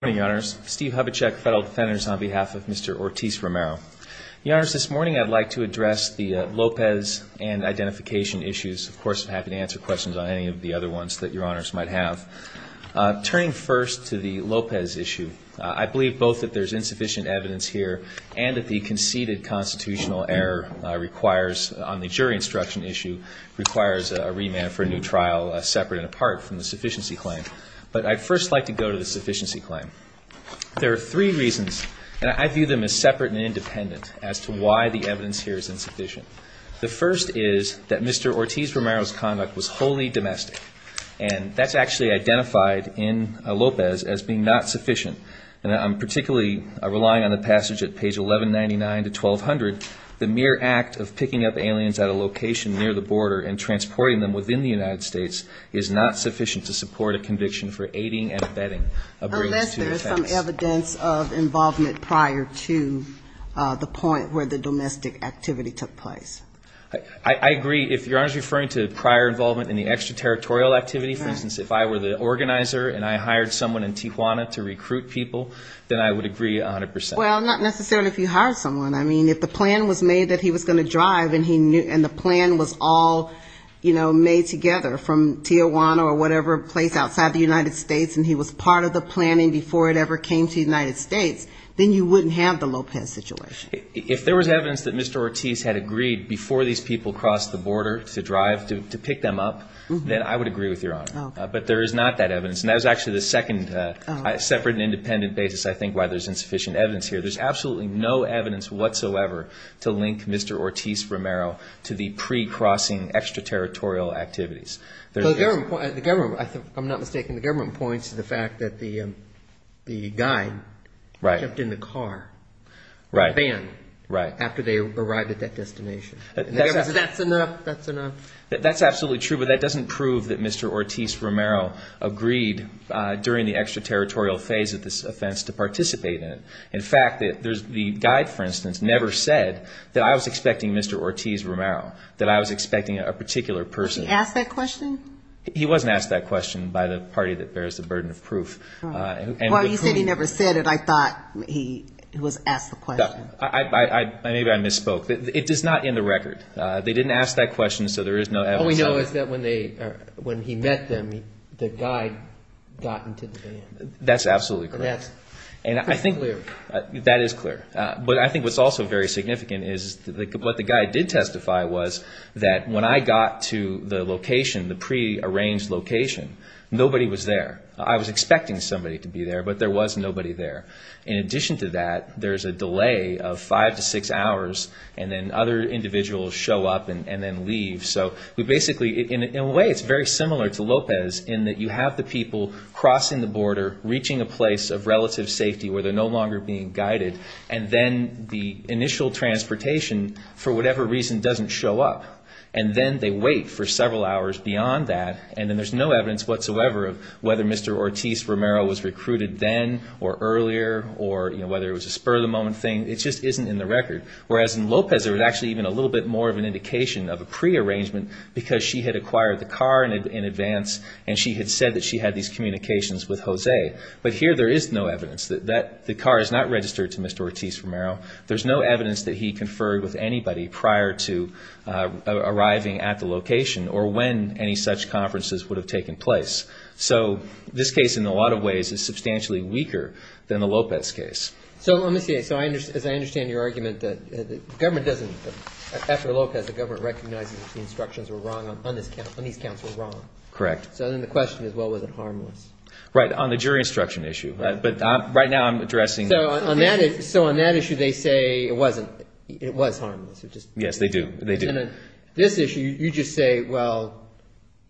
Good morning, Your Honors. Steve Hubachek, Federal Defenders, on behalf of Mr. Ortiz-Romero. Your Honors, this morning I'd like to address the Lopez and identification issues. Of course, I'm happy to answer questions on any of the other ones that Your Honors might have. Turning first to the Lopez issue, I believe both that there's insufficient evidence here and that the conceded constitutional error requires, on the jury instruction issue, requires a remand for a new trial separate and apart from the sufficiency claim. But I'd first like to go to the sufficiency claim. There are three reasons, and I view them as separate and independent, as to why the evidence here is insufficient. The first is that Mr. Ortiz-Romero's conduct was wholly domestic, and that's actually identified in Lopez as being not sufficient. And I'm particularly relying on the passage at page 1199 to 1200, the mere act of picking up aliens at a location near the border and transporting them within the United States is not sufficient to support a conviction for aiding and abetting a bridge to the fence. Unless there is some evidence of involvement prior to the point where the domestic activity took place. I agree. If Your Honors are referring to prior involvement in the extraterritorial activity, for instance, if I were the organizer and I hired someone in Tijuana to recruit people, then I would agree 100%. Well, not necessarily if you hired someone. I mean, if the plan was made that he was going to drive, and the plan was all, you know, made together from Tijuana or whatever place outside the United States, and he was part of the planning before it ever came to the United States, then you wouldn't have the Lopez situation. If there was evidence that Mr. Ortiz had agreed before these people crossed the border to drive to pick them up, then I would agree with Your Honor. But there is not that evidence. And that was actually the second separate and independent basis, I think, why there's insufficient evidence here. There's absolutely no evidence whatsoever to link Mr. Ortiz-Romero to the pre-crossing extraterritorial activities. The government, I'm not mistaken, the government points to the fact that the guy jumped in the car. Right. The van. Right. After they arrived at that destination. That's enough, that's enough. That's absolutely true, but that doesn't prove that Mr. Ortiz-Romero agreed during the extraterritorial phase of this offense to participate in it. In fact, the guide, for instance, never said that I was expecting Mr. Ortiz-Romero, that I was expecting a particular person. Was he asked that question? He wasn't asked that question by the party that bears the burden of proof. Well, you said he never said it. I thought he was asked the question. Maybe I misspoke. It does not end the record. They didn't ask that question, so there is no evidence. All we know is that when he met them, the guide got into the van. That's absolutely correct. That is clear. But I think what's also very significant is what the guide did testify was that when I got to the location, the pre-arranged location, nobody was there. I was expecting somebody to be there, but there was nobody there. In addition to that, there's a delay of five to six hours, and then other individuals show up and then leave. In a way, it's very similar to Lopez in that you have the people crossing the border, reaching a place of relative safety where they're no longer being guided, and then the initial transportation, for whatever reason, doesn't show up, and then they wait for several hours beyond that, and then there's no evidence whatsoever of whether Mr. Ortiz-Romero was recruited then or earlier or whether it was a spur-of-the-moment thing. It just isn't in the record. Whereas in Lopez, there was actually even a little bit more of an indication of a pre-arrangement because she had acquired the car in advance and she had said that she had these communications with Jose. But here there is no evidence that the car is not registered to Mr. Ortiz-Romero. There's no evidence that he conferred with anybody prior to arriving at the location or when any such conferences would have taken place. So this case, in a lot of ways, is substantially weaker than the Lopez case. So let me see. So as I understand your argument, the government doesn't – after Lopez, the government recognizes that the instructions were wrong on these counts. Correct. So then the question is, well, was it harmless? Right. On the jury instruction issue. But right now I'm addressing – So on that issue, they say it wasn't – it was harmless. Yes, they do. They do. And then this issue, you just say, well,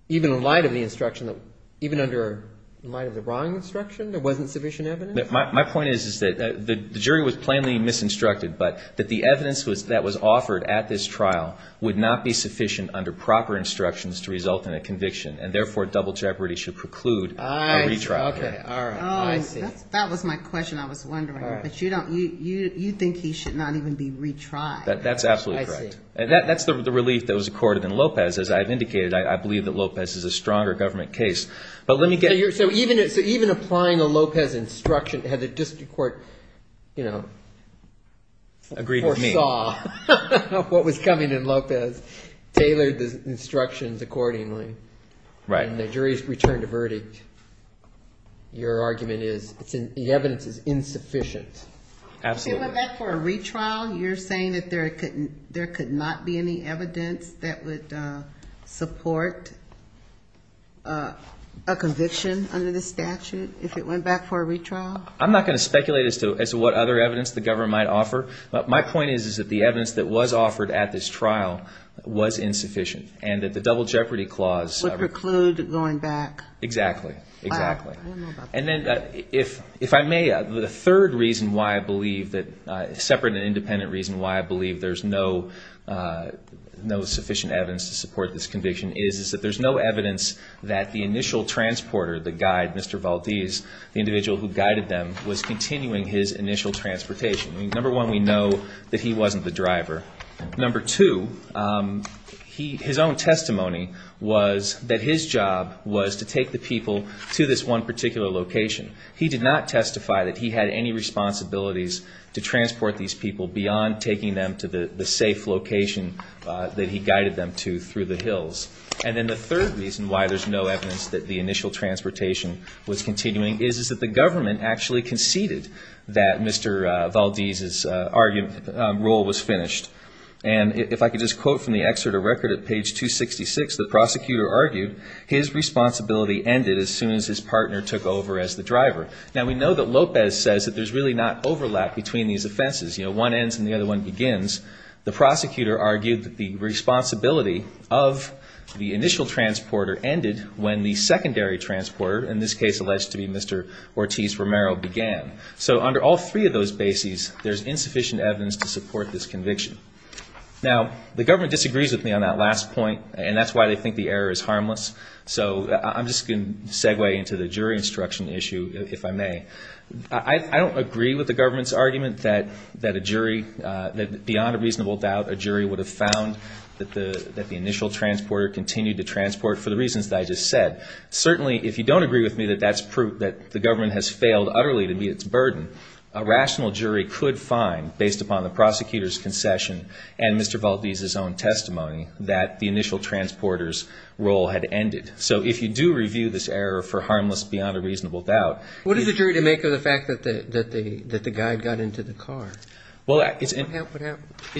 even in light of the instruction, even under – in light of the wrong instruction, there wasn't sufficient evidence? My point is that the jury was plainly misinstructed, but that the evidence that was offered at this trial would not be sufficient under proper instructions to result in a conviction, and therefore double jeopardy should preclude a retrial. Okay. All right. I see. That was my question. I was wondering. But you don't – you think he should not even be retried. That's absolutely correct. I see. That's the relief that was accorded in Lopez. As I've indicated, I believe that Lopez is a stronger government case. But let me get – So even applying a Lopez instruction had the district court, you know, foresaw what was coming in Lopez, tailored the instructions accordingly. Right. And the jury's returned a verdict. Your argument is the evidence is insufficient. Absolutely. If it went back for a retrial, you're saying that there could not be any evidence that would support a conviction under the statute if it went back for a retrial? I'm not going to speculate as to what other evidence the government might offer. My point is, is that the evidence that was offered at this trial was insufficient and that the double jeopardy clause – Would preclude going back. Exactly. Exactly. And then if I may, the third reason why I believe that – separate and independent reason why I believe there's no sufficient evidence to support this conviction is that there's no evidence that the initial transporter, the guide, Mr. Valdez, the individual who guided them, was continuing his initial transportation. Number one, we know that he wasn't the driver. Number two, his own testimony was that his job was to take the people to this one particular location. He did not testify that he had any responsibilities to transport these people beyond taking them to the safe location that he guided them to through the hills. And then the third reason why there's no evidence that the initial transportation was continuing is that the government actually conceded that Mr. Valdez's role was finished. And if I could just quote from the excerpt of record at page 266, the prosecutor argued, his responsibility ended as soon as his partner took over as the driver. Now, we know that Lopez says that there's really not overlap between these offenses. You know, one ends and the other one begins. The prosecutor argued that the responsibility of the initial transporter ended when the secondary transporter, in this case alleged to be Mr. Ortiz-Romero, began. So under all three of those bases, there's insufficient evidence to support this conviction. Now, the government disagrees with me on that last point, and that's why they think the error is harmless. So I'm just going to segue into the jury instruction issue, if I may. I don't agree with the government's argument that a jury, that beyond a reasonable doubt, a jury would have found that the initial transporter continued to transport for the reasons that I just said. Certainly, if you don't agree with me that that's proof that the government has failed utterly to meet its burden, a rational jury could find, based upon the prosecutor's concession and Mr. Valdez's own testimony, that the initial transporter's role had ended. So if you do review this error for harmless beyond a reasonable doubt. What is the jury to make of the fact that the guy got into the car? Well, it's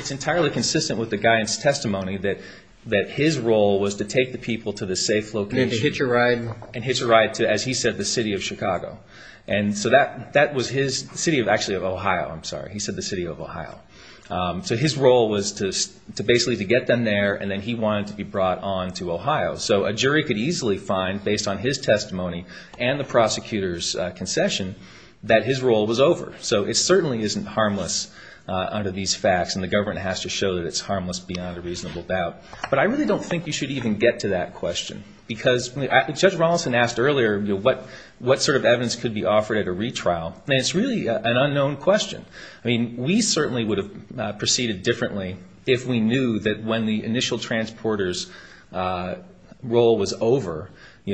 entirely consistent with the guy's testimony that his role was to take the people to the safe location. And then to hitch a ride. And hitch a ride to, as he said, the city of Chicago. And so that was his city of, actually of Ohio, I'm sorry. He said the city of Ohio. So his role was to basically to get them there, and then he wanted to be brought on to Ohio. So a jury could easily find, based on his testimony and the prosecutor's concession, that his role was over. So it certainly isn't harmless under these facts, and the government has to show that it's harmless beyond a reasonable doubt. But I really don't think you should even get to that question. Because Judge Ronaldson asked earlier what sort of evidence could be offered at a retrial. And it's really an unknown question. I mean, we certainly would have proceeded differently if we knew that when the initial transporter's role was over,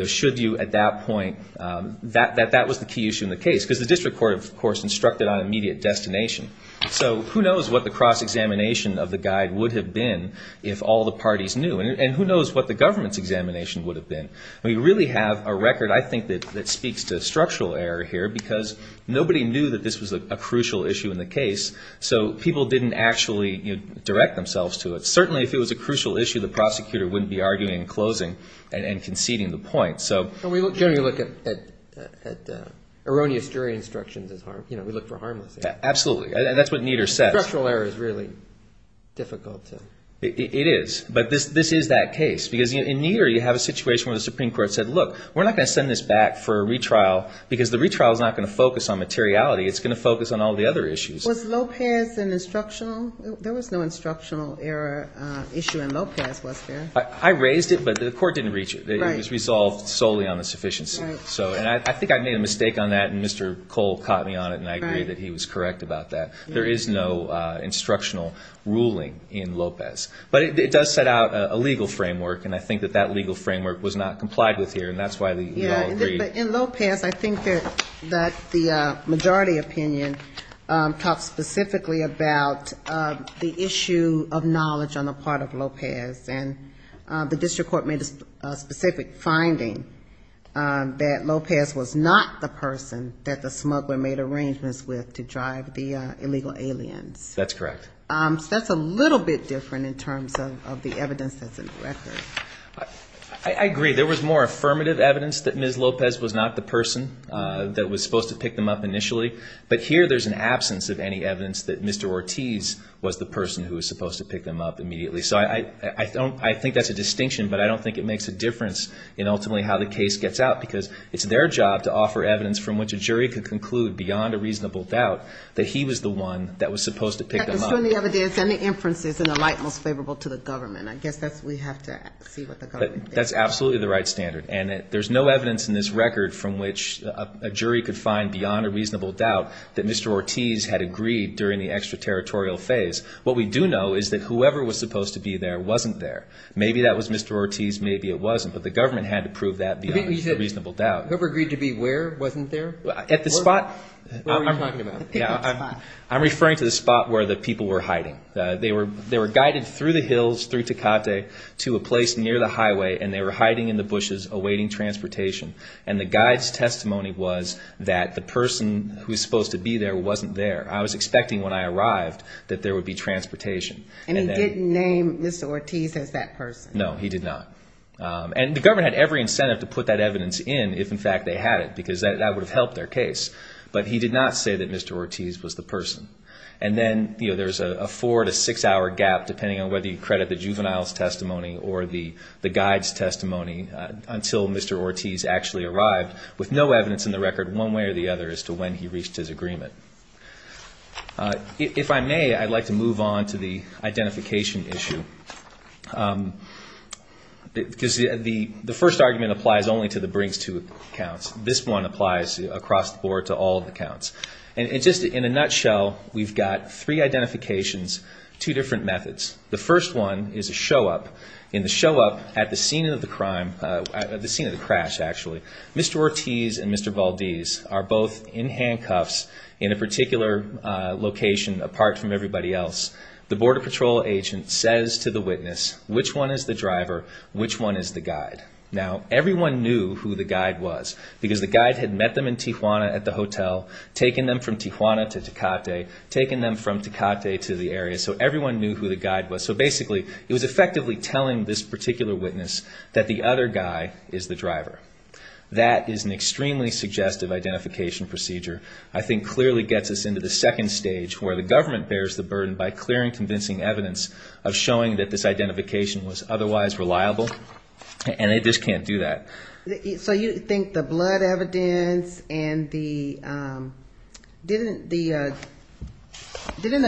should you at that point, that was the key issue in the case. Because the district court, of course, instructed on immediate destination. So who knows what the cross-examination of the guide would have been if all the parties knew. And who knows what the government's examination would have been. We really have a record, I think, that speaks to structural error here, because nobody knew that this was a crucial issue in the case. So people didn't actually direct themselves to it. Certainly, if it was a crucial issue, the prosecutor wouldn't be arguing and closing and conceding the point. So we generally look at erroneous jury instructions as harmless. Absolutely. And that's what Nieder says. Structural error is really difficult. It is. But this is that case. Because in Nieder, you have a situation where the Supreme Court said, look, we're not going to send this back for a retrial, because the retrial is not going to focus on materiality. It's going to focus on all the other issues. Was Lopez an instructional? There was no instructional error issue in Lopez, was there? I raised it, but the court didn't reach it. It was resolved solely on the sufficiency. I think I made a mistake on that, and Mr. Cole caught me on it, and I agree that he was correct about that. There is no instructional ruling in Lopez. But it does set out a legal framework, and I think that that legal framework was not complied with here, and that's why we all agree. In Lopez, I think that the majority opinion talks specifically about the issue of knowledge on the part of Lopez. And the district court made a specific finding that Lopez was not the person that the smuggler made arrangements with to drive the illegal aliens. That's correct. So that's a little bit different in terms of the evidence that's in the record. I agree. There was more affirmative evidence that Ms. Lopez was not the person that was supposed to pick them up initially. But here, there's an absence of any evidence that Mr. Ortiz was the person who was supposed to pick them up immediately. So I think that's a distinction, but I don't think it makes a difference in ultimately how the case gets out, because it's their job to offer evidence from which a jury could conclude beyond a reasonable doubt that he was the one that was supposed to pick them up. That was from the evidence and the inferences in the light most favorable to the government. I guess we have to see what the government thinks. That's absolutely the right standard. And there's no evidence in this record from which a jury could find beyond a reasonable doubt that Mr. Ortiz had agreed during the extraterritorial phase. What we do know is that whoever was supposed to be there wasn't there. Maybe that was Mr. Ortiz, maybe it wasn't. But the government had to prove that beyond a reasonable doubt. You said whoever agreed to be where wasn't there? At the spot. What were you talking about? I'm referring to the spot where the people were hiding. They were guided through the hills, through Tecate, to a place near the highway, and they were hiding in the bushes awaiting transportation. And the guide's testimony was that the person who was supposed to be there wasn't there. I was expecting when I arrived that there would be transportation. And he didn't name Mr. Ortiz as that person? No, he did not. And the government had every incentive to put that evidence in if, in fact, they had it, because that would have helped their case. But he did not say that Mr. Ortiz was the person. And then there's a four- to six-hour gap, depending on whether you credit the juvenile's testimony or the guide's testimony, until Mr. Ortiz actually arrived, with no evidence in the record one way or the other as to when he reached his agreement. If I may, I'd like to move on to the identification issue. Because the first argument applies only to the brings-to accounts. This one applies across the board to all accounts. And just in a nutshell, we've got three identifications, two different methods. The first one is a show-up. In the show-up at the scene of the crime, at the scene of the crash, actually, Mr. Ortiz and Mr. Valdes are both in handcuffs in a particular location apart from everybody else. The Border Patrol agent says to the witness, which one is the driver, which one is the guide? Now, everyone knew who the guide was, because the guide had met them in Tijuana at the hotel, taken them from Tijuana to Tecate, taken them from Tecate to the area. So everyone knew who the guide was. So basically, it was effectively telling this particular witness that the other guy is the driver. That is an extremely suggestive identification procedure. I think clearly gets us into the second stage, where the government bears the burden by clearing convincing evidence of showing that this identification was otherwise reliable, and they just can't do that. So you think the blood evidence and the – didn't the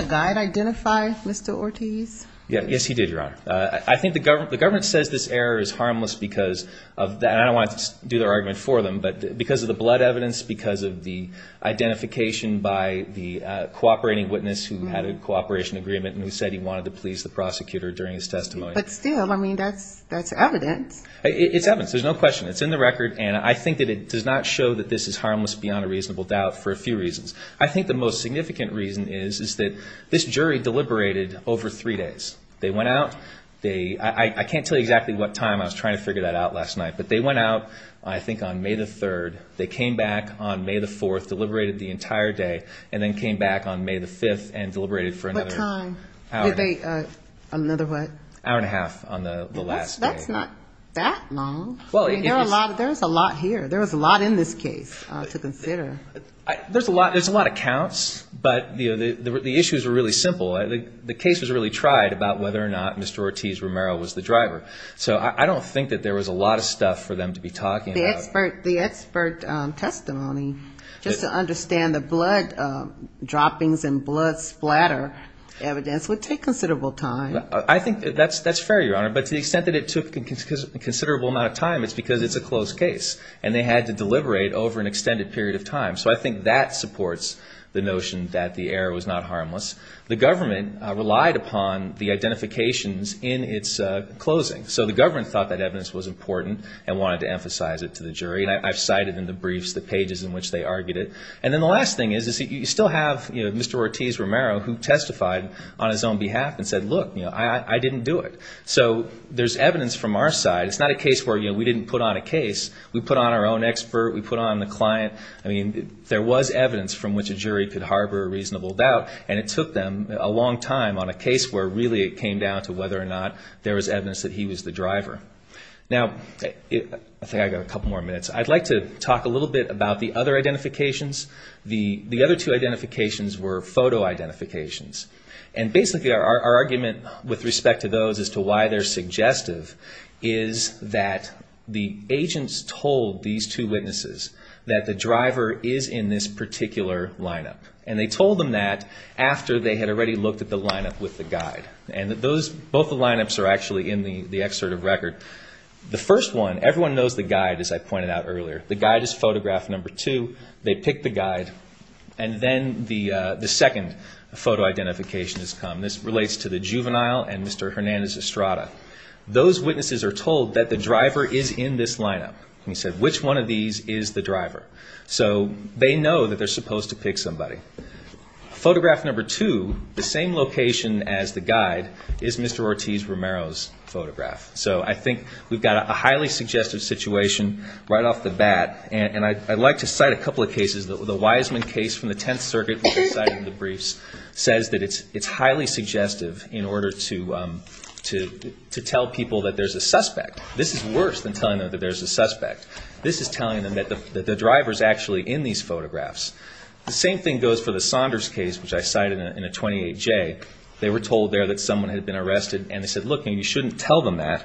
guide identify Mr. Ortiz? Yes, he did, Your Honor. I think the government says this error is harmless because of – and I don't want to do the argument for them, but because of the blood evidence, because of the identification by the cooperating witness who had a cooperation agreement and who said he wanted to please the prosecutor during his testimony. But still, I mean, that's evidence. It's evidence. There's no question. It's in the record, and I think that it does not show that this is harmless beyond a reasonable doubt for a few reasons. I think the most significant reason is that this jury deliberated over three days. They went out. I can't tell you exactly what time. I was trying to figure that out last night. But they went out, I think, on May the 3rd. They came back on May the 4th, deliberated the entire day, and then came back on May the 5th and deliberated for another hour. What time? Another what? Hour and a half on the last day. That's not that long. There's a lot here. There was a lot in this case to consider. There's a lot of counts, but the issues were really simple. The case was really tried about whether or not Mr. Ortiz Romero was the driver. So I don't think that there was a lot of stuff for them to be talking about. The expert testimony, just to understand the blood droppings and blood splatter evidence would take considerable time. I think that's fair, Your Honor. But to the extent that it took a considerable amount of time, it's because it's a closed case and they had to deliberate over an extended period of time. So I think that supports the notion that the error was not harmless. The government relied upon the identifications in its closing. So the government thought that evidence was important and wanted to emphasize it to the jury. I've cited in the briefs the pages in which they argued it. And then the last thing is you still have Mr. Ortiz Romero who testified on his own behalf and said, look, I didn't do it. So there's evidence from our side. It's not a case where we didn't put on a case. We put on our own expert. We put on the client. I mean, there was evidence from which a jury could harbor a reasonable doubt. And it took them a long time on a case where really it came down to whether or not there was evidence that he was the driver. Now, I think I've got a couple more minutes. I'd like to talk a little bit about the other identifications. The other two identifications were photo identifications. And basically our argument with respect to those as to why they're suggestive is that the agents told these two witnesses that the driver is in this particular lineup. And they told them that after they had already looked at the lineup with the guide. And both the lineups are actually in the excerpt of record. The first one, everyone knows the guide, as I pointed out earlier. The guide is photograph number two. They pick the guide. And then the second photo identification has come. This relates to the juvenile and Mr. Hernandez-Estrada. Those witnesses are told that the driver is in this lineup. And he said, which one of these is the driver? So they know that they're supposed to pick somebody. Photograph number two, the same location as the guide, is Mr. Ortiz-Romero's photograph. So I think we've got a highly suggestive situation right off the bat. And I'd like to cite a couple of cases. The Wiseman case from the Tenth Circuit, which I cited in the briefs, says that it's highly suggestive in order to tell people that there's a suspect. This is worse than telling them that there's a suspect. This is telling them that the driver is actually in these photographs. The same thing goes for the Saunders case, which I cited in the 28J. They were told there that someone had been arrested. And they said, look, you shouldn't tell them that,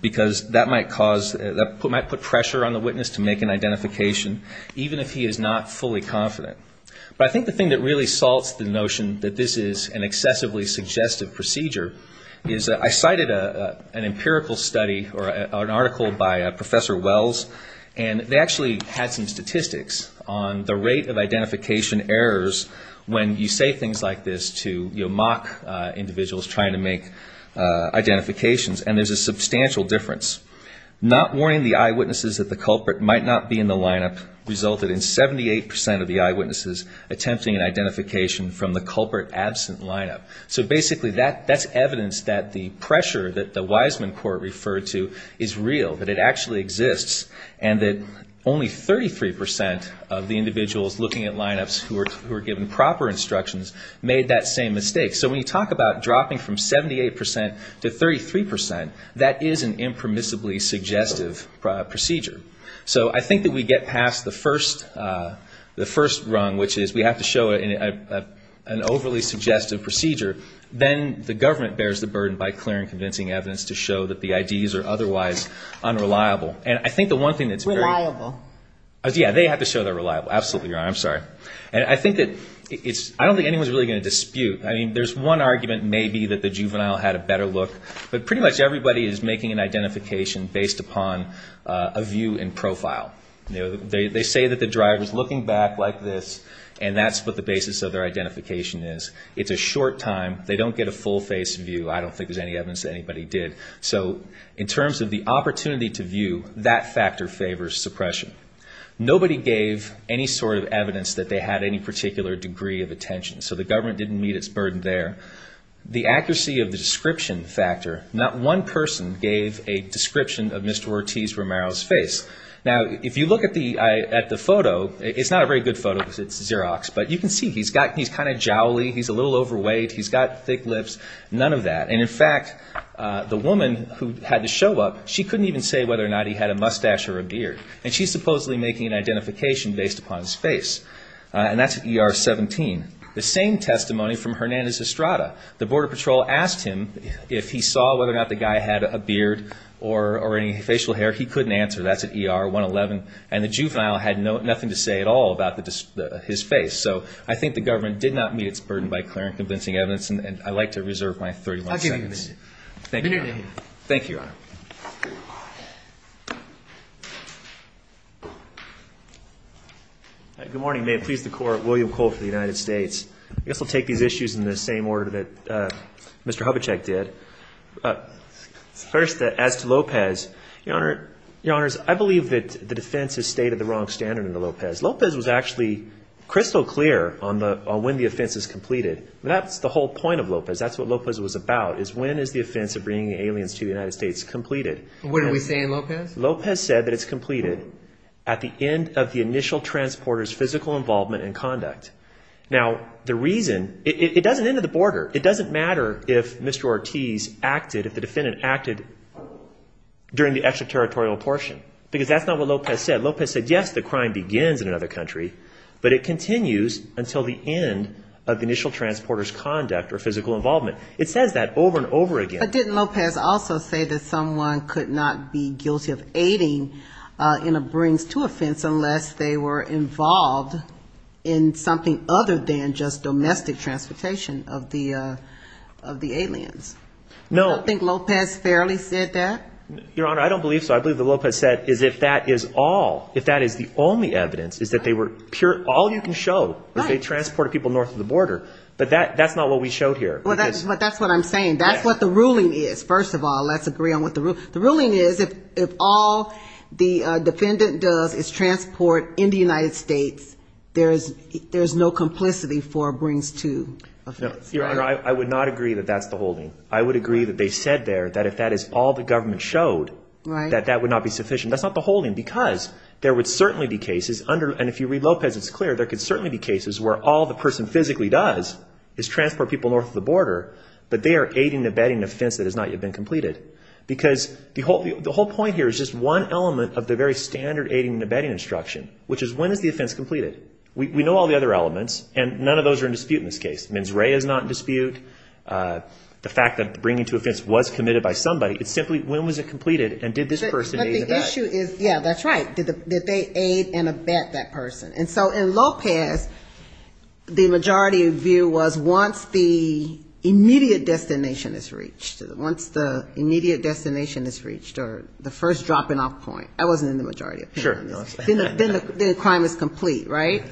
because that might put pressure on the witness to make an identification, even if he is not fully confident. But I think the thing that really salts the notion that this is an excessively suggestive procedure is that I cited an empirical study, or an article by Professor Wells, and they actually had some statistics on the rate of identification errors when you say things like this to mock individuals trying to make identifications. And there's a substantial difference. Not warning the eyewitnesses that the culprit might not be in the lineup resulted in 78 percent of the eyewitnesses attempting an identification from the culprit absent lineup. So basically that's evidence that the pressure that the Wiseman court referred to is real, that it actually exists, and that only 33 percent of the individuals looking at lineups who were given proper instructions made that same mistake. So when you talk about dropping from 78 percent to 33 percent, that is an impermissibly suggestive procedure. So I think that we get past the first rung, which is we have to show an overly suggestive procedure. Then the government bears the burden by clearing convincing evidence to show that the IDs are otherwise unreliable. And I think the one thing that's very... Reliable. Yeah, they have to show they're reliable. Absolutely, Your Honor. I'm sorry. And I think that it's – I don't think anyone's really going to dispute. I mean, there's one argument maybe that the juvenile had a better look, but pretty much everybody is making an identification based upon a view and profile. They say that the driver's looking back like this, and that's what the basis of their identification is. It's a short time. They don't get a full-face view. I don't think there's any evidence that anybody did. So in terms of the opportunity to view, that factor favors suppression. Nobody gave any sort of evidence that they had any particular degree of attention, so the government didn't meet its burden there. The accuracy of the description factor, not one person gave a description of Mr. Ortiz Romero's face. Now, if you look at the photo, it's not a very good photo because it's Xerox, but you can see he's kind of jowly. He's a little overweight. He's got thick lips. None of that. And, in fact, the woman who had to show up, she couldn't even say whether or not he had a mustache or a beard, and she's supposedly making an identification based upon his face, and that's at ER-17. The same testimony from Hernandez-Estrada. The Border Patrol asked him if he saw whether or not the guy had a beard or any facial hair. He couldn't answer. That's at ER-111, and the juvenile had nothing to say at all about his face. So I think the government did not meet its burden by clear and convincing evidence, and I'd like to reserve my 31 seconds. I'll give you a minute. Thank you, Your Honor. Thank you, Your Honor. Good morning. May it please the Court. William Cole for the United States. I guess I'll take these issues in the same order that Mr. Hubachek did. First, as to Lopez, Your Honors, I believe that the defense has stated the wrong standard in the Lopez. Lopez was actually crystal clear on when the offense is completed. That's the whole point of Lopez. That's what Lopez was about, is when is the offense of bringing aliens to the United States completed. What are we saying, Lopez? Lopez said that it's completed at the end of the initial transporter's physical involvement and conduct. Now, the reason, it doesn't end at the border. It doesn't matter if Mr. Ortiz acted, if the defendant acted during the extraterritorial portion, because that's not what Lopez said. Lopez said, yes, the crime begins in another country, but it continues until the end of the initial transporter's conduct or physical involvement. It says that over and over again. But didn't Lopez also say that someone could not be guilty of aiding in a brings-to-offense unless they were involved in something other than just domestic transportation of the aliens? No. I think Lopez fairly said that. Your Honor, I don't believe so. What I believe that Lopez said is if that is all, if that is the only evidence, is that all you can show is they transported people north of the border. But that's not what we showed here. Well, that's what I'm saying. That's what the ruling is, first of all. Let's agree on what the ruling is. The ruling is if all the defendant does is transport in the United States, there is no complicity for brings-to-offense. Your Honor, I would not agree that that's the holding. I would agree that they said there that if that is all the government showed, that that would not be sufficient. That's not the holding because there would certainly be cases under, and if you read Lopez it's clear, there could certainly be cases where all the person physically does is transport people north of the border, but they are aiding and abetting an offense that has not yet been completed. Because the whole point here is just one element of the very standard aiding and abetting instruction, which is when is the offense completed. We know all the other elements, and none of those are in dispute in this case. Men's ray is not in dispute. The fact that bring-to-offense was committed by somebody, it's simply when was it completed and did this person aid and abet. But the issue is, yeah, that's right, did they aid and abet that person. And so in Lopez, the majority view was once the immediate destination is reached, once the immediate destination is reached or the first dropping-off point. That wasn't in the majority opinion. Sure. Then the crime is complete, right?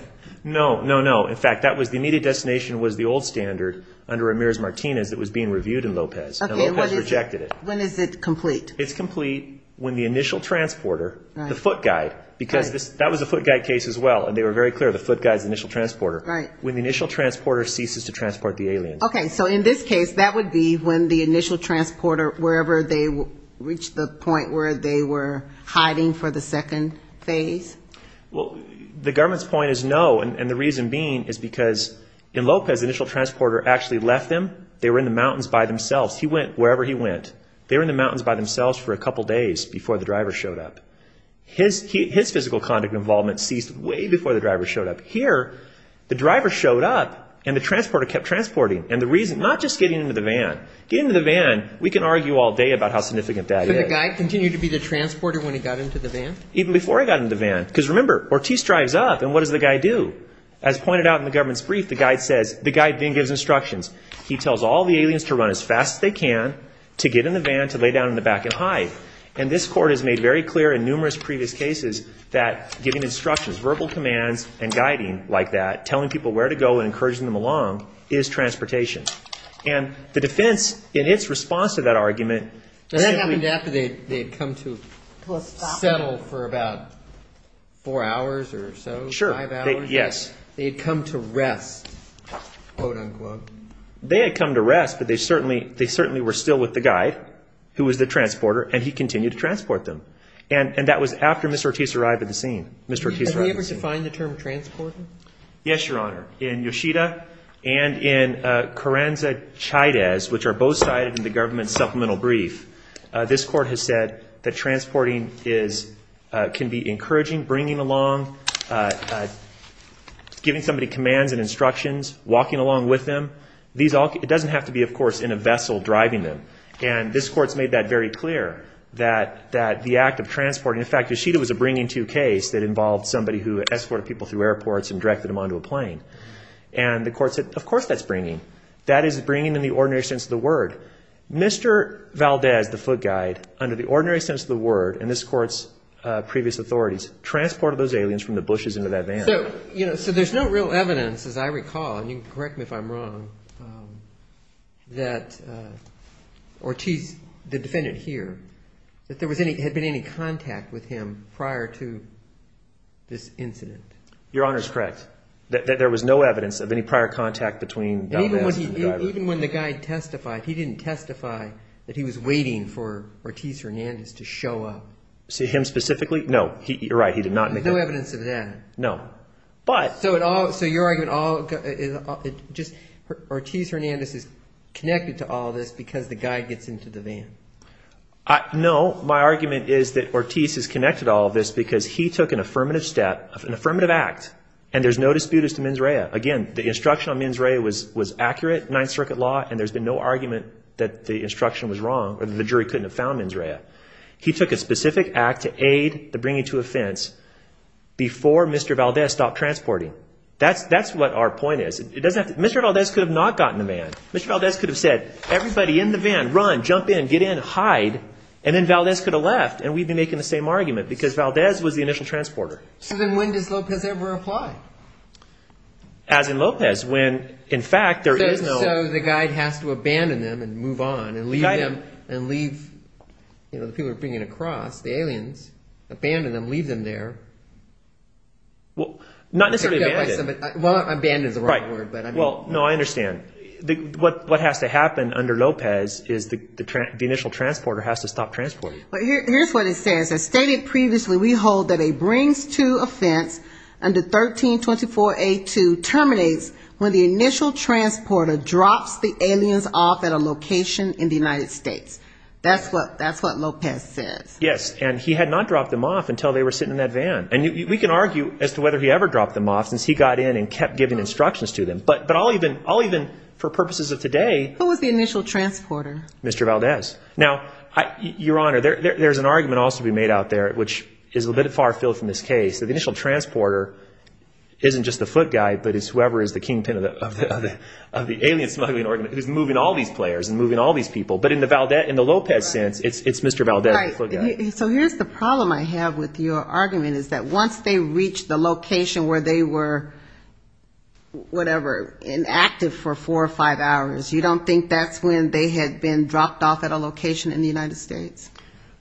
No, no, no. In fact, the immediate destination was the old standard under Ramirez-Martinez that was being reviewed in Lopez, and Lopez rejected it. When is it complete? It's complete when the initial transporter, the foot guide, because that was a foot guide case as well, and they were very clear, the foot guide is the initial transporter, when the initial transporter ceases to transport the alien. Okay, so in this case, that would be when the initial transporter, wherever they reached the point where they were hiding for the second phase? The government's point is no, and the reason being is because in Lopez, the initial transporter actually left them. They were in the mountains by themselves. He went wherever he went. They were in the mountains by themselves for a couple days before the driver showed up. His physical conduct involvement ceased way before the driver showed up. Here, the driver showed up, and the transporter kept transporting, and the reason, not just getting into the van. Getting into the van, we can argue all day about how significant that is. So the guy continued to be the transporter when he got into the van? Even before he got into the van, because remember, Ortiz drives up, and what does the guy do? As pointed out in the government's brief, the guide says, the guide then gives instructions. He tells all the aliens to run as fast as they can, to get in the van, to lay down in the back and hide, and this court has made very clear in numerous previous cases that giving instructions, verbal commands and guiding like that, telling people where to go and encouraging them along is transportation, and the defense in its response to that argument. But that happened after they had come to settle for about four hours or so, five hours? Sure, yes. They had come to rest, quote, unquote. They had come to rest, but they certainly were still with the guide, who was the transporter, and he continued to transport them, and that was after Mr. Ortiz arrived at the scene. Mr. Ortiz arrived at the scene. Have we ever defined the term transported? Yes, Your Honor. In Yoshida and in Carranza-Chaydez, which are both cited in the government's supplemental brief, this court has said that transporting can be encouraging, bringing along, giving somebody commands and instructions, walking along with them. It doesn't have to be, of course, in a vessel driving them, and this court has made that very clear, that the act of transporting. In fact, Yoshida was a bringing-to case that involved somebody who escorted people through airports and directed them onto a plane, and the court said, of course that's bringing. That is bringing in the ordinary sense of the word. Mr. Valdez, the foot guide, under the ordinary sense of the word, and this court's previous authorities transported those aliens from the bushes into that van. So there's no real evidence, as I recall, and you can correct me if I'm wrong, that Ortiz, the defendant here, that there had been any contact with him prior to this incident? Your Honor is correct, that there was no evidence of any prior contact between Valdez and the guy. Even when the guy testified, he didn't testify that he was waiting for Ortiz Hernandez to show up? Him specifically? No, you're right, he did not. No evidence of that? No. So your argument, Ortiz Hernandez is connected to all this because the guy gets into the van? No, my argument is that Ortiz is connected to all of this because he took an affirmative step, an affirmative act, and there's no disputes to mens rea. Again, the instruction on mens rea was accurate, 9th Circuit law, and there's been no argument that the instruction was wrong or that the jury couldn't have found mens rea. He took a specific act to aid the bringing to offense before Mr. Valdez stopped transporting. That's what our point is. Mr. Valdez could have not gotten in the van. Mr. Valdez could have said, everybody in the van, run, jump in, get in, hide, and then Valdez could have left, and we'd be making the same argument, because Valdez was the initial transporter. So then when does Lopez ever reply? As in Lopez, when, in fact, there is no... So the guy has to abandon them and move on and leave them and leave, you know, the people he was bringing across, the aliens, abandon them, leave them there. Well, not necessarily abandon. Abandon is the wrong word. Well, no, I understand. What has to happen under Lopez is the initial transporter has to stop transporting. Here's what it says. As stated previously, we hold that a brings to offense under 1324A2 terminates when the initial transporter drops the aliens off at a location in the United States. That's what Lopez says. Yes, and he had not dropped them off until they were sitting in that van. And we can argue as to whether he ever dropped them off since he got in and kept giving instructions to them. But I'll even, for purposes of today... Who was the initial transporter? Mr. Valdez. Now, Your Honor, there's an argument also to be made out there, which is a little bit far-filled from this case, that the initial transporter isn't just the foot guy, but it's whoever is the kingpin of the alien smuggling organization who's moving all these players and moving all these people. But in the Lopez sense, it's Mr. Valdez, the foot guy. So here's the problem I have with your argument, is that once they reach the location where they were, whatever, inactive for four or five hours, you don't think that's when they had been dropped off at a location in the United States?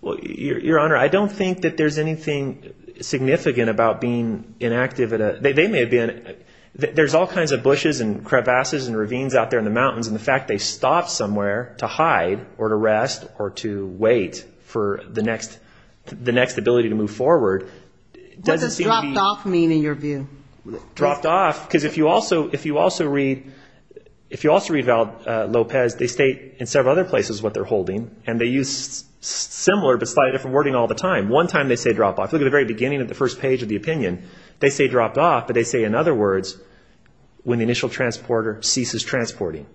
Well, Your Honor, I don't think that there's anything significant about being inactive. They may have been. There's all kinds of bushes and crevasses and ravines out there in the mountains, and the fact they stopped somewhere to hide or to rest or to wait for the next ability to move forward doesn't seem to be... What does dropped off mean in your view? Dropped off, because if you also read Lopez, they state in several other places what they're holding, and they use similar but slightly different wording all the time. One time they say dropped off. Look at the very beginning of the first page of the opinion. They say dropped off, but they say in other words, when the initial transporter ceases transporting.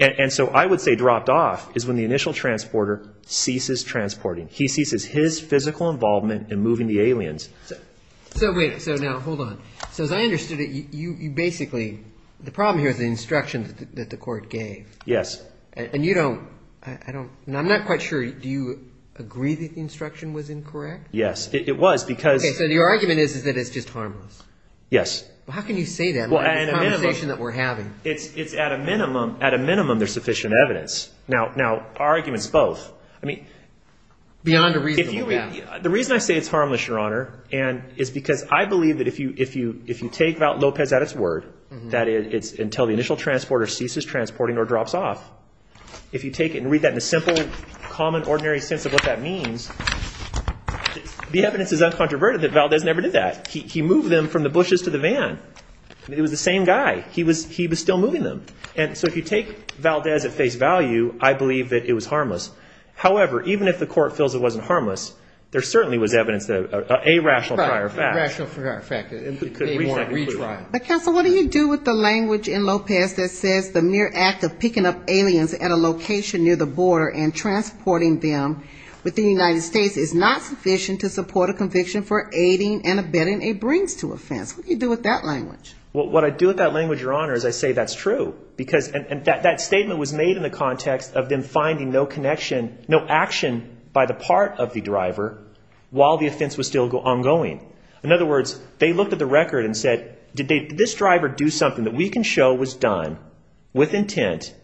And so I would say dropped off is when the initial transporter ceases transporting. He ceases his physical involvement in moving the aliens. So wait, so now hold on. So as I understood it, you basically... The problem here is the instruction that the court gave. Yes. And you don't... I'm not quite sure, do you agree that the instruction was incorrect? Yes, it was because... Okay, so your argument is that it's just harmless. Yes. How can you say that in this conversation that we're having? It's at a minimum there's sufficient evidence. Now, our argument's both. I mean... Beyond a reasonable doubt. The reason I say it's harmless, Your Honor, is because I believe that if you take Val Lopez at his word, that it's until the initial transporter ceases transporting or drops off, if you take it and read that in a simple, common, ordinary sense of what that means, the evidence is uncontroverted that Val Lopez never did that. He moved them from the bushes to the van. It was the same guy. He was still moving them. And so if you take Valdez at face value, I believe that it was harmless. However, even if the court feels it wasn't harmless, there certainly was evidence that a rational prior fact. A rational prior fact. It could be a retrial. But, counsel, what do you do with the language in Lopez that says the mere act of picking up aliens at a location near the border and transporting them within the United States is not sufficient to support a conviction for aiding and abetting a brings-to-offense? What do you do with that language? What I do with that language, Your Honor, is I say that's true. And that statement was made in the context of them finding no connection, no action by the part of the driver while the offense was still ongoing. In other words, they looked at the record and said, did this driver do something that we can show was done with intent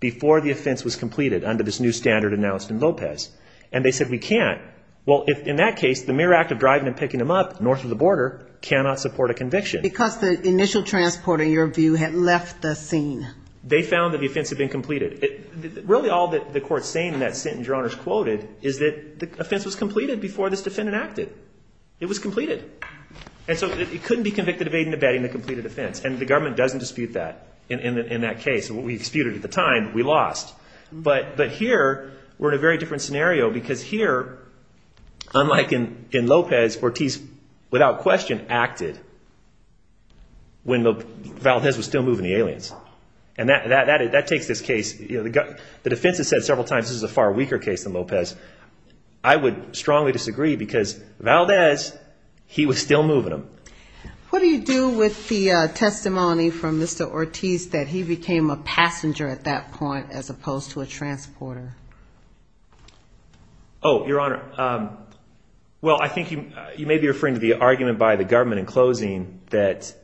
before the offense was completed under this new standard announced in Lopez? And they said we can't. Well, in that case, the mere act of driving and picking them up north of the border cannot support a conviction. Because the initial transport, in your view, had left the scene. They found that the offense had been completed. Really all that the court's saying in that sentence, Your Honor, is quoted, is that the offense was completed before this defendant acted. It was completed. And so it couldn't be convicted of aiding and abetting the completed offense. And the government doesn't dispute that in that case. We disputed it at the time. We lost. But here we're in a very different scenario because here, unlike in Lopez, Ortiz without question acted when Valdez was still moving the aliens. And that takes this case. The defense has said several times this is a far weaker case than Lopez. I would strongly disagree because Valdez, he was still moving them. What do you do with the testimony from Mr. Ortiz that he became a passenger at that point as opposed to a transporter? Oh, Your Honor. Well, I think you may be referring to the argument by the government in closing that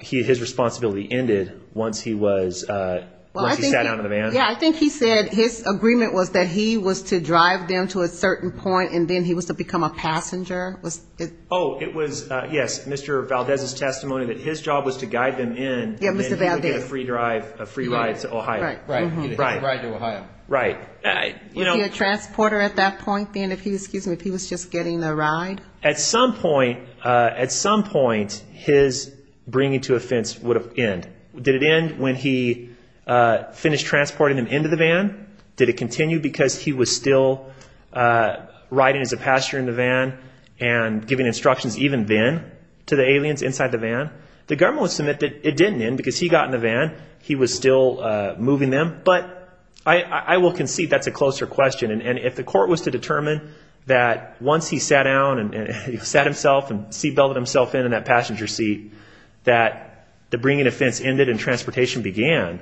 his responsibility ended once he sat down in the van. Yeah, I think he said his agreement was that he was to drive them to a certain point and then he was to become a passenger. Oh, it was, yes, Mr. Valdez's testimony that his job was to guide them in Yeah, Mr. Valdez. And then he would get a free ride to Ohio. Right. He would get a ride to Ohio. Right. Would he be a transporter at that point then if he was just getting a ride? At some point his bringing to a fence would have ended. Did it end when he finished transporting them into the van? Did it continue because he was still riding as a passenger in the van and giving instructions even then to the aliens inside the van? The government would submit that it didn't end because he got in the van. He was still moving them. But I will concede that's a closer question. And if the court was to determine that once he sat down and he sat himself and seat belted himself in in that passenger seat that the bringing to a fence ended and transportation began,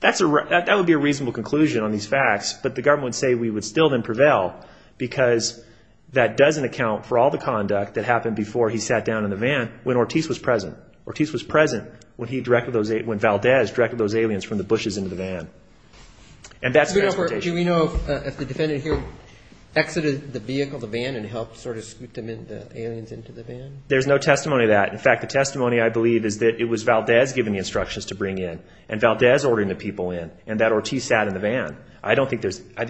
that would be a reasonable conclusion on these facts. But the government would say we would still then prevail because that doesn't account for all the conduct that happened before he sat down in the van when Ortiz was present. Ortiz was present when Valdez directed those aliens from the bushes into the van. And that's transportation. Do we know if the defendant here exited the vehicle, the van, and helped sort of scoot the aliens into the van? There's no testimony to that. In fact, the testimony I believe is that it was Valdez giving the instructions to bring in and Valdez ordering the people in and that Ortiz sat in the van. I think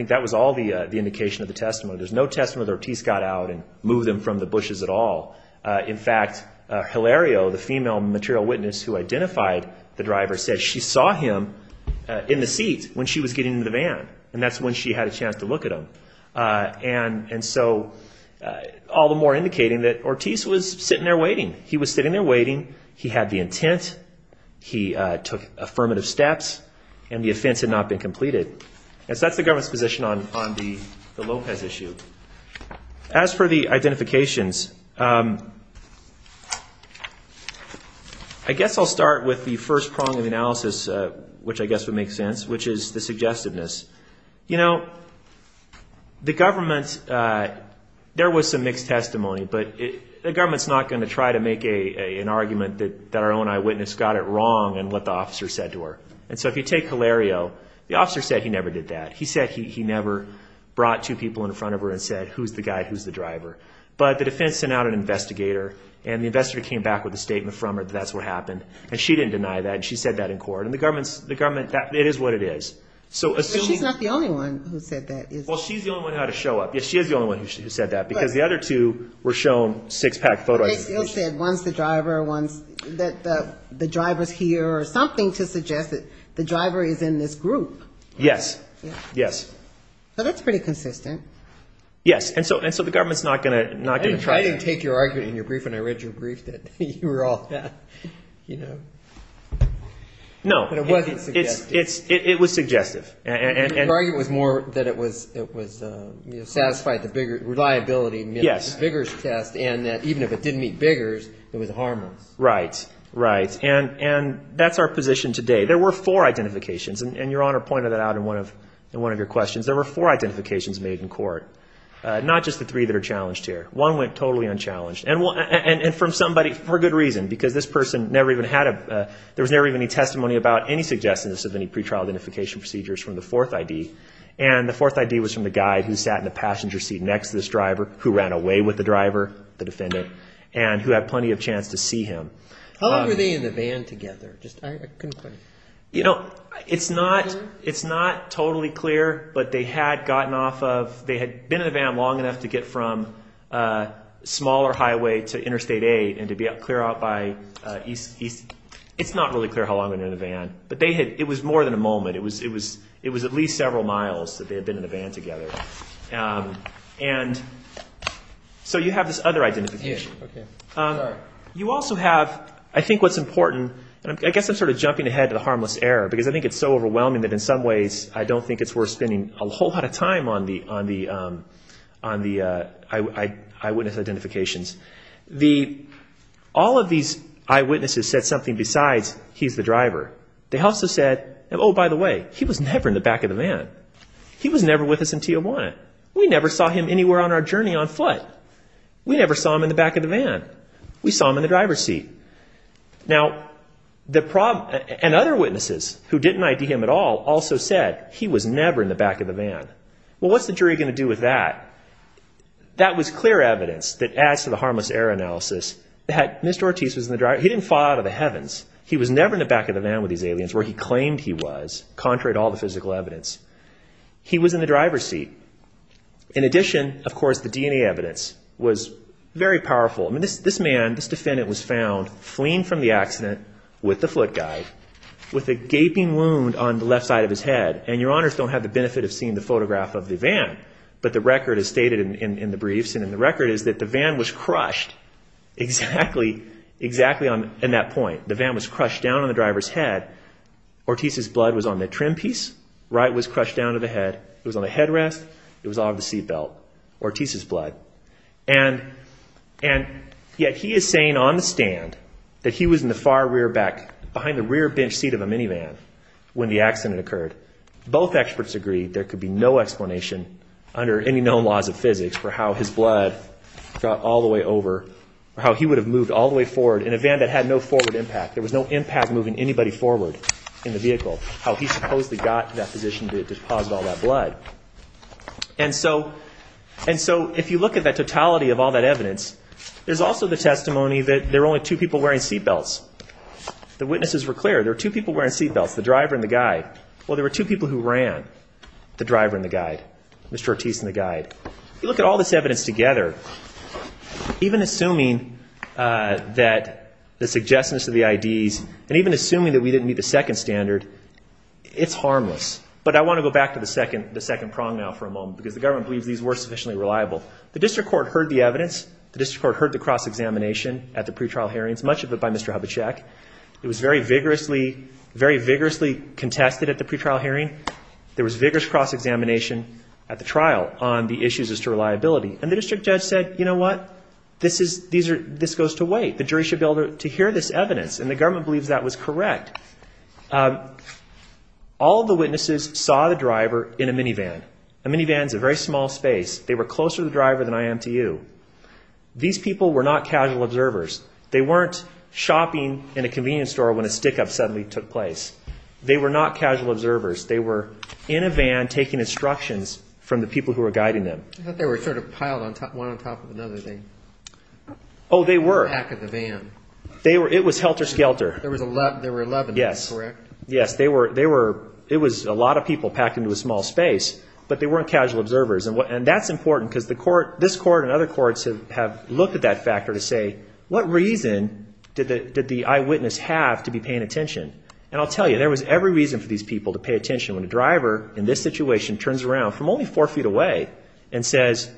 that was all the indication of the testimony. There's no testimony that Ortiz got out and moved them from the bushes at all. In fact, Hilario, the female material witness who identified the driver, said she saw him in the seat when she was getting into the van and that's when she had a chance to look at him. And so all the more indicating that Ortiz was sitting there waiting. He was sitting there waiting. He had the intent. He took affirmative steps and the offense had not been completed. And so that's the government's position on the Lopez issue. As for the identifications, I guess I'll start with the first prong of the analysis, which I guess would make sense, which is the suggestiveness. You know, the government, there was some mixed testimony, but the government's not going to try to make an argument that our own eyewitness got it wrong and what the officer said to her. And so if you take Hilario, the officer said he never did that. He said he never brought two people in front of her and said, who's the guy, who's the driver? But the defense sent out an investigator, and the investigator came back with a statement from her that that's what happened. And she didn't deny that, and she said that in court. And the government, it is what it is. But she's not the only one who said that. Well, she's the only one who had to show up. Yes, she is the only one who said that because the other two were shown six-pack photo identification. But they still said, one's the driver, the driver's here, or something to suggest that the driver is in this group. Yes, yes. Well, that's pretty consistent. Yes. And so the government's not going to try to do that. I didn't take your argument in your brief, and I read your brief that you were all, you know. No. But it wasn't suggestive. It was suggestive. Your argument was more that it was satisfied the reliability of the Biggers test, and that even if it didn't meet Biggers, it was harmless. Right, right. And that's our position today. There were four identifications, and Your Honor pointed that out in one of your questions. There were four identifications made in court, not just the three that are challenged here. One went totally unchallenged, and from somebody for good reason, because this person never even had a – there was never even any testimony about any suggestiveness of any pretrial identification procedures from the fourth ID. And the fourth ID was from the guy who sat in the passenger seat next to this driver who ran away with the driver, the defendant, and who had plenty of chance to see him. How long were they in the van together? You know, it's not totally clear, but they had gotten off of – they had been in the van long enough to get from smaller highway to Interstate 8 and to be clear out by East – it's not really clear how long they were in the van, but they had – it was more than a moment. It was at least several miles that they had been in the van together. And so you have this other identification. You also have, I think what's important – and I guess I'm sort of jumping ahead to the harmless error, because I think it's so overwhelming that in some ways I don't think it's worth spending a whole lot of time on the eyewitness identifications. All of these eyewitnesses said something besides, he's the driver. They also said, oh, by the way, he was never in the back of the van. He was never with us in T01. We never saw him anywhere on our journey on foot. We never saw him in the back of the van. We saw him in the driver's seat. Now, the problem – and other witnesses who didn't ID him at all also said he was never in the back of the van. Well, what's the jury going to do with that? That was clear evidence that adds to the harmless error analysis that Mr. Ortiz was in the driver's – he didn't fall out of the heavens. He was never in the back of the van with these aliens where he claimed he was, contrary to all the physical evidence. He was in the driver's seat. In addition, of course, the DNA evidence was very powerful. This man, this defendant was found fleeing from the accident with the foot guide with a gaping wound on the left side of his head. And your honors don't have the benefit of seeing the photograph of the van, but the record is stated in the briefs and in the record is that the van was crushed exactly on that point. The van was crushed down on the driver's head. Ortiz's blood was on the trim piece. Right was crushed down to the head. It was on the headrest. It was off the seat belt. Ortiz's blood. And yet he is saying on the stand that he was in the far rear back, behind the rear bench seat of a minivan when the accident occurred. Both experts agreed there could be no explanation under any known laws of physics for how his blood got all the way over or how he would have moved all the way forward in a van that had no forward impact. There was no impact moving anybody forward in the vehicle. How he supposedly got that physician to deposit all that blood. And so if you look at the totality of all that evidence, there's also the testimony that there were only two people wearing seat belts. The witnesses were clear. There were two people wearing seat belts, the driver and the guide. Well, there were two people who ran, the driver and the guide, Mr. Ortiz and the guide. If you look at all this evidence together, even assuming that the suggestions of the IDs and even assuming that we didn't meet the second standard, it's harmless. But I want to go back to the second prong now for a moment because the government believes these were sufficiently reliable. The district court heard the evidence. The district court heard the cross-examination at the pretrial hearings, much of it by Mr. Hubachek. It was very vigorously contested at the pretrial hearing. There was vigorous cross-examination at the trial on the issues as to reliability. And the district judge said, you know what, this goes to wait. The jury should be able to hear this evidence. And the government believes that was correct. All the witnesses saw the driver in a minivan. A minivan is a very small space. They were closer to the driver than I am to you. These people were not casual observers. They weren't shopping in a convenience store when a stick-up suddenly took place. They were not casual observers. They were in a van taking instructions from the people who were guiding them. I thought they were sort of piled one on top of another thing. Oh, they were. Back of the van. It was helter-skelter. There were 11, is that correct? Yes. It was a lot of people packed into a small space, but they weren't casual observers. And that's important because this court and other courts have looked at that factor to say, what reason did the eyewitness have to be paying attention? And I'll tell you, there was every reason for these people to pay attention when a driver in this situation turns around from only four feet away and says,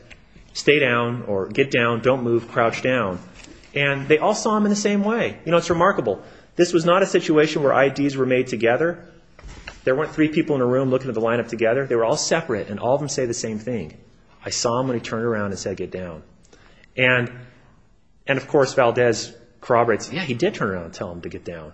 stay down or get down, don't move, crouch down. And they all saw him in the same way. You know, it's remarkable. This was not a situation where IDs were made together. There weren't three people in a room looking at the lineup together. They were all separate, and all of them say the same thing. I saw him when he turned around and said, get down. And, of course, Valdez corroborates, yeah, he did turn around and tell him to get down.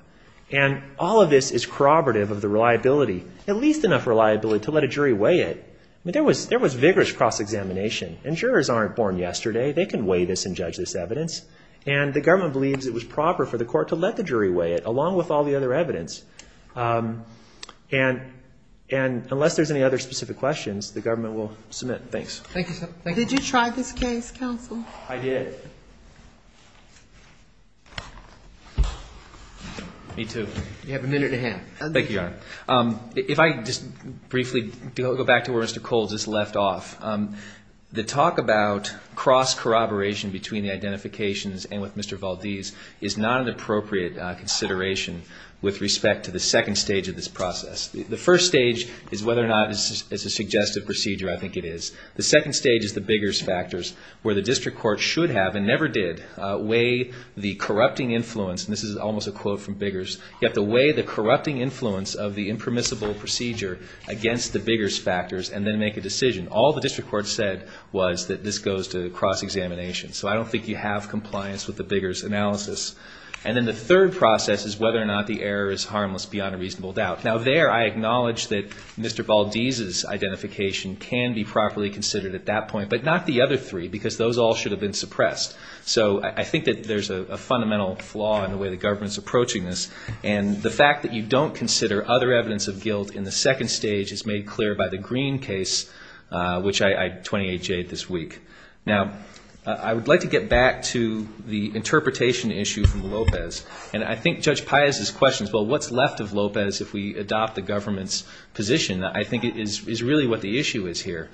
And all of this is corroborative of the reliability, at least enough reliability, to let a jury weigh it. I mean, there was vigorous cross-examination, and jurors aren't born yesterday. They can weigh this and judge this evidence. And the government believes it was proper for the court to let the jury weigh it, along with all the other evidence. And unless there's any other specific questions, the government will submit. Thanks. Thank you, sir. Did you try this case, counsel? I did. Me too. You have a minute and a half. Thank you, Your Honor. If I just briefly go back to where Mr. Coles just left off, the talk about cross-corroboration between the identifications and with Mr. Valdez is not an appropriate consideration with respect to the second stage of this process. The first stage is whether or not it's a suggestive procedure. I think it is. The second stage is the Biggers factors, where the district court should have and never did weigh the corrupting influence. And this is almost a quote from Biggers. You have to weigh the corrupting influence of the impermissible procedure against the Biggers factors and then make a decision. All the district court said was that this goes to cross-examination. So I don't think you have compliance with the Biggers analysis. And then the third process is whether or not the error is harmless beyond a reasonable doubt. Now, there I acknowledge that Mr. Valdez's identification can be properly considered at that point, but not the other three because those all should have been suppressed. So I think that there's a fundamental flaw in the way the government's approaching this. And the fact that you don't consider other evidence of guilt in the second stage is made clear by the Green case, which I 28-J'd this week. Now, I would like to get back to the interpretation issue from Lopez. And I think Judge Paez's question is, well, what's left of Lopez if we adopt the government's position? I think it is really what the issue is here.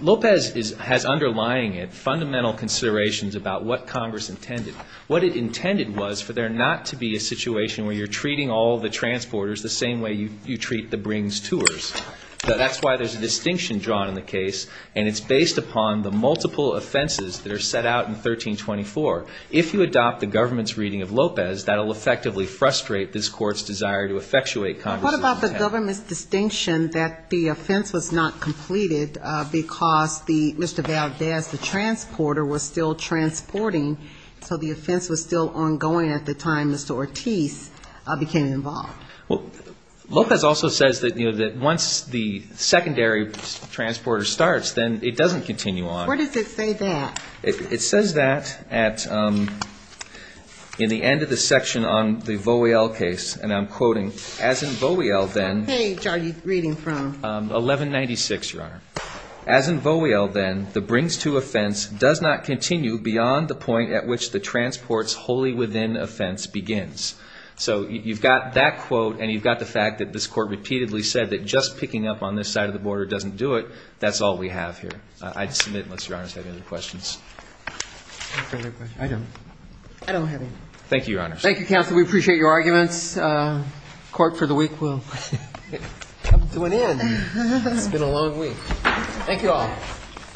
Lopez has underlying fundamental considerations about what Congress intended. What it intended was for there not to be a situation where you're treating all the transporters the same way you treat the brings tours. That's why there's a distinction drawn in the case, and it's based upon the multiple offenses that are set out in 1324. If you adopt the government's reading of Lopez, that will effectively frustrate this Court's desire to effectuate Congress's intent. What about the government's distinction that the offense was not completed because Mr. Valdez, the transporter, was still transporting, so the offense was still ongoing at the time Mr. Ortiz became involved? Well, Lopez also says that once the secondary transporter starts, then it doesn't continue on. Where does it say that? It says that in the end of the section on the Vowiel case, and I'm quoting, as in Vowiel then. What page are you reading from? 1196, Your Honor. As in Vowiel then, the brings to offense does not continue beyond the point at which the transports wholly within offense begins. So you've got that quote, and you've got the fact that this Court repeatedly said that just picking up on this side of the border doesn't do it. That's all we have here. I'd submit unless Your Honors have any other questions. No further questions. I don't. I don't have any. Thank you, Your Honors. We appreciate your arguments. Court for the week will come to an end. It's been a long week. Thank you all.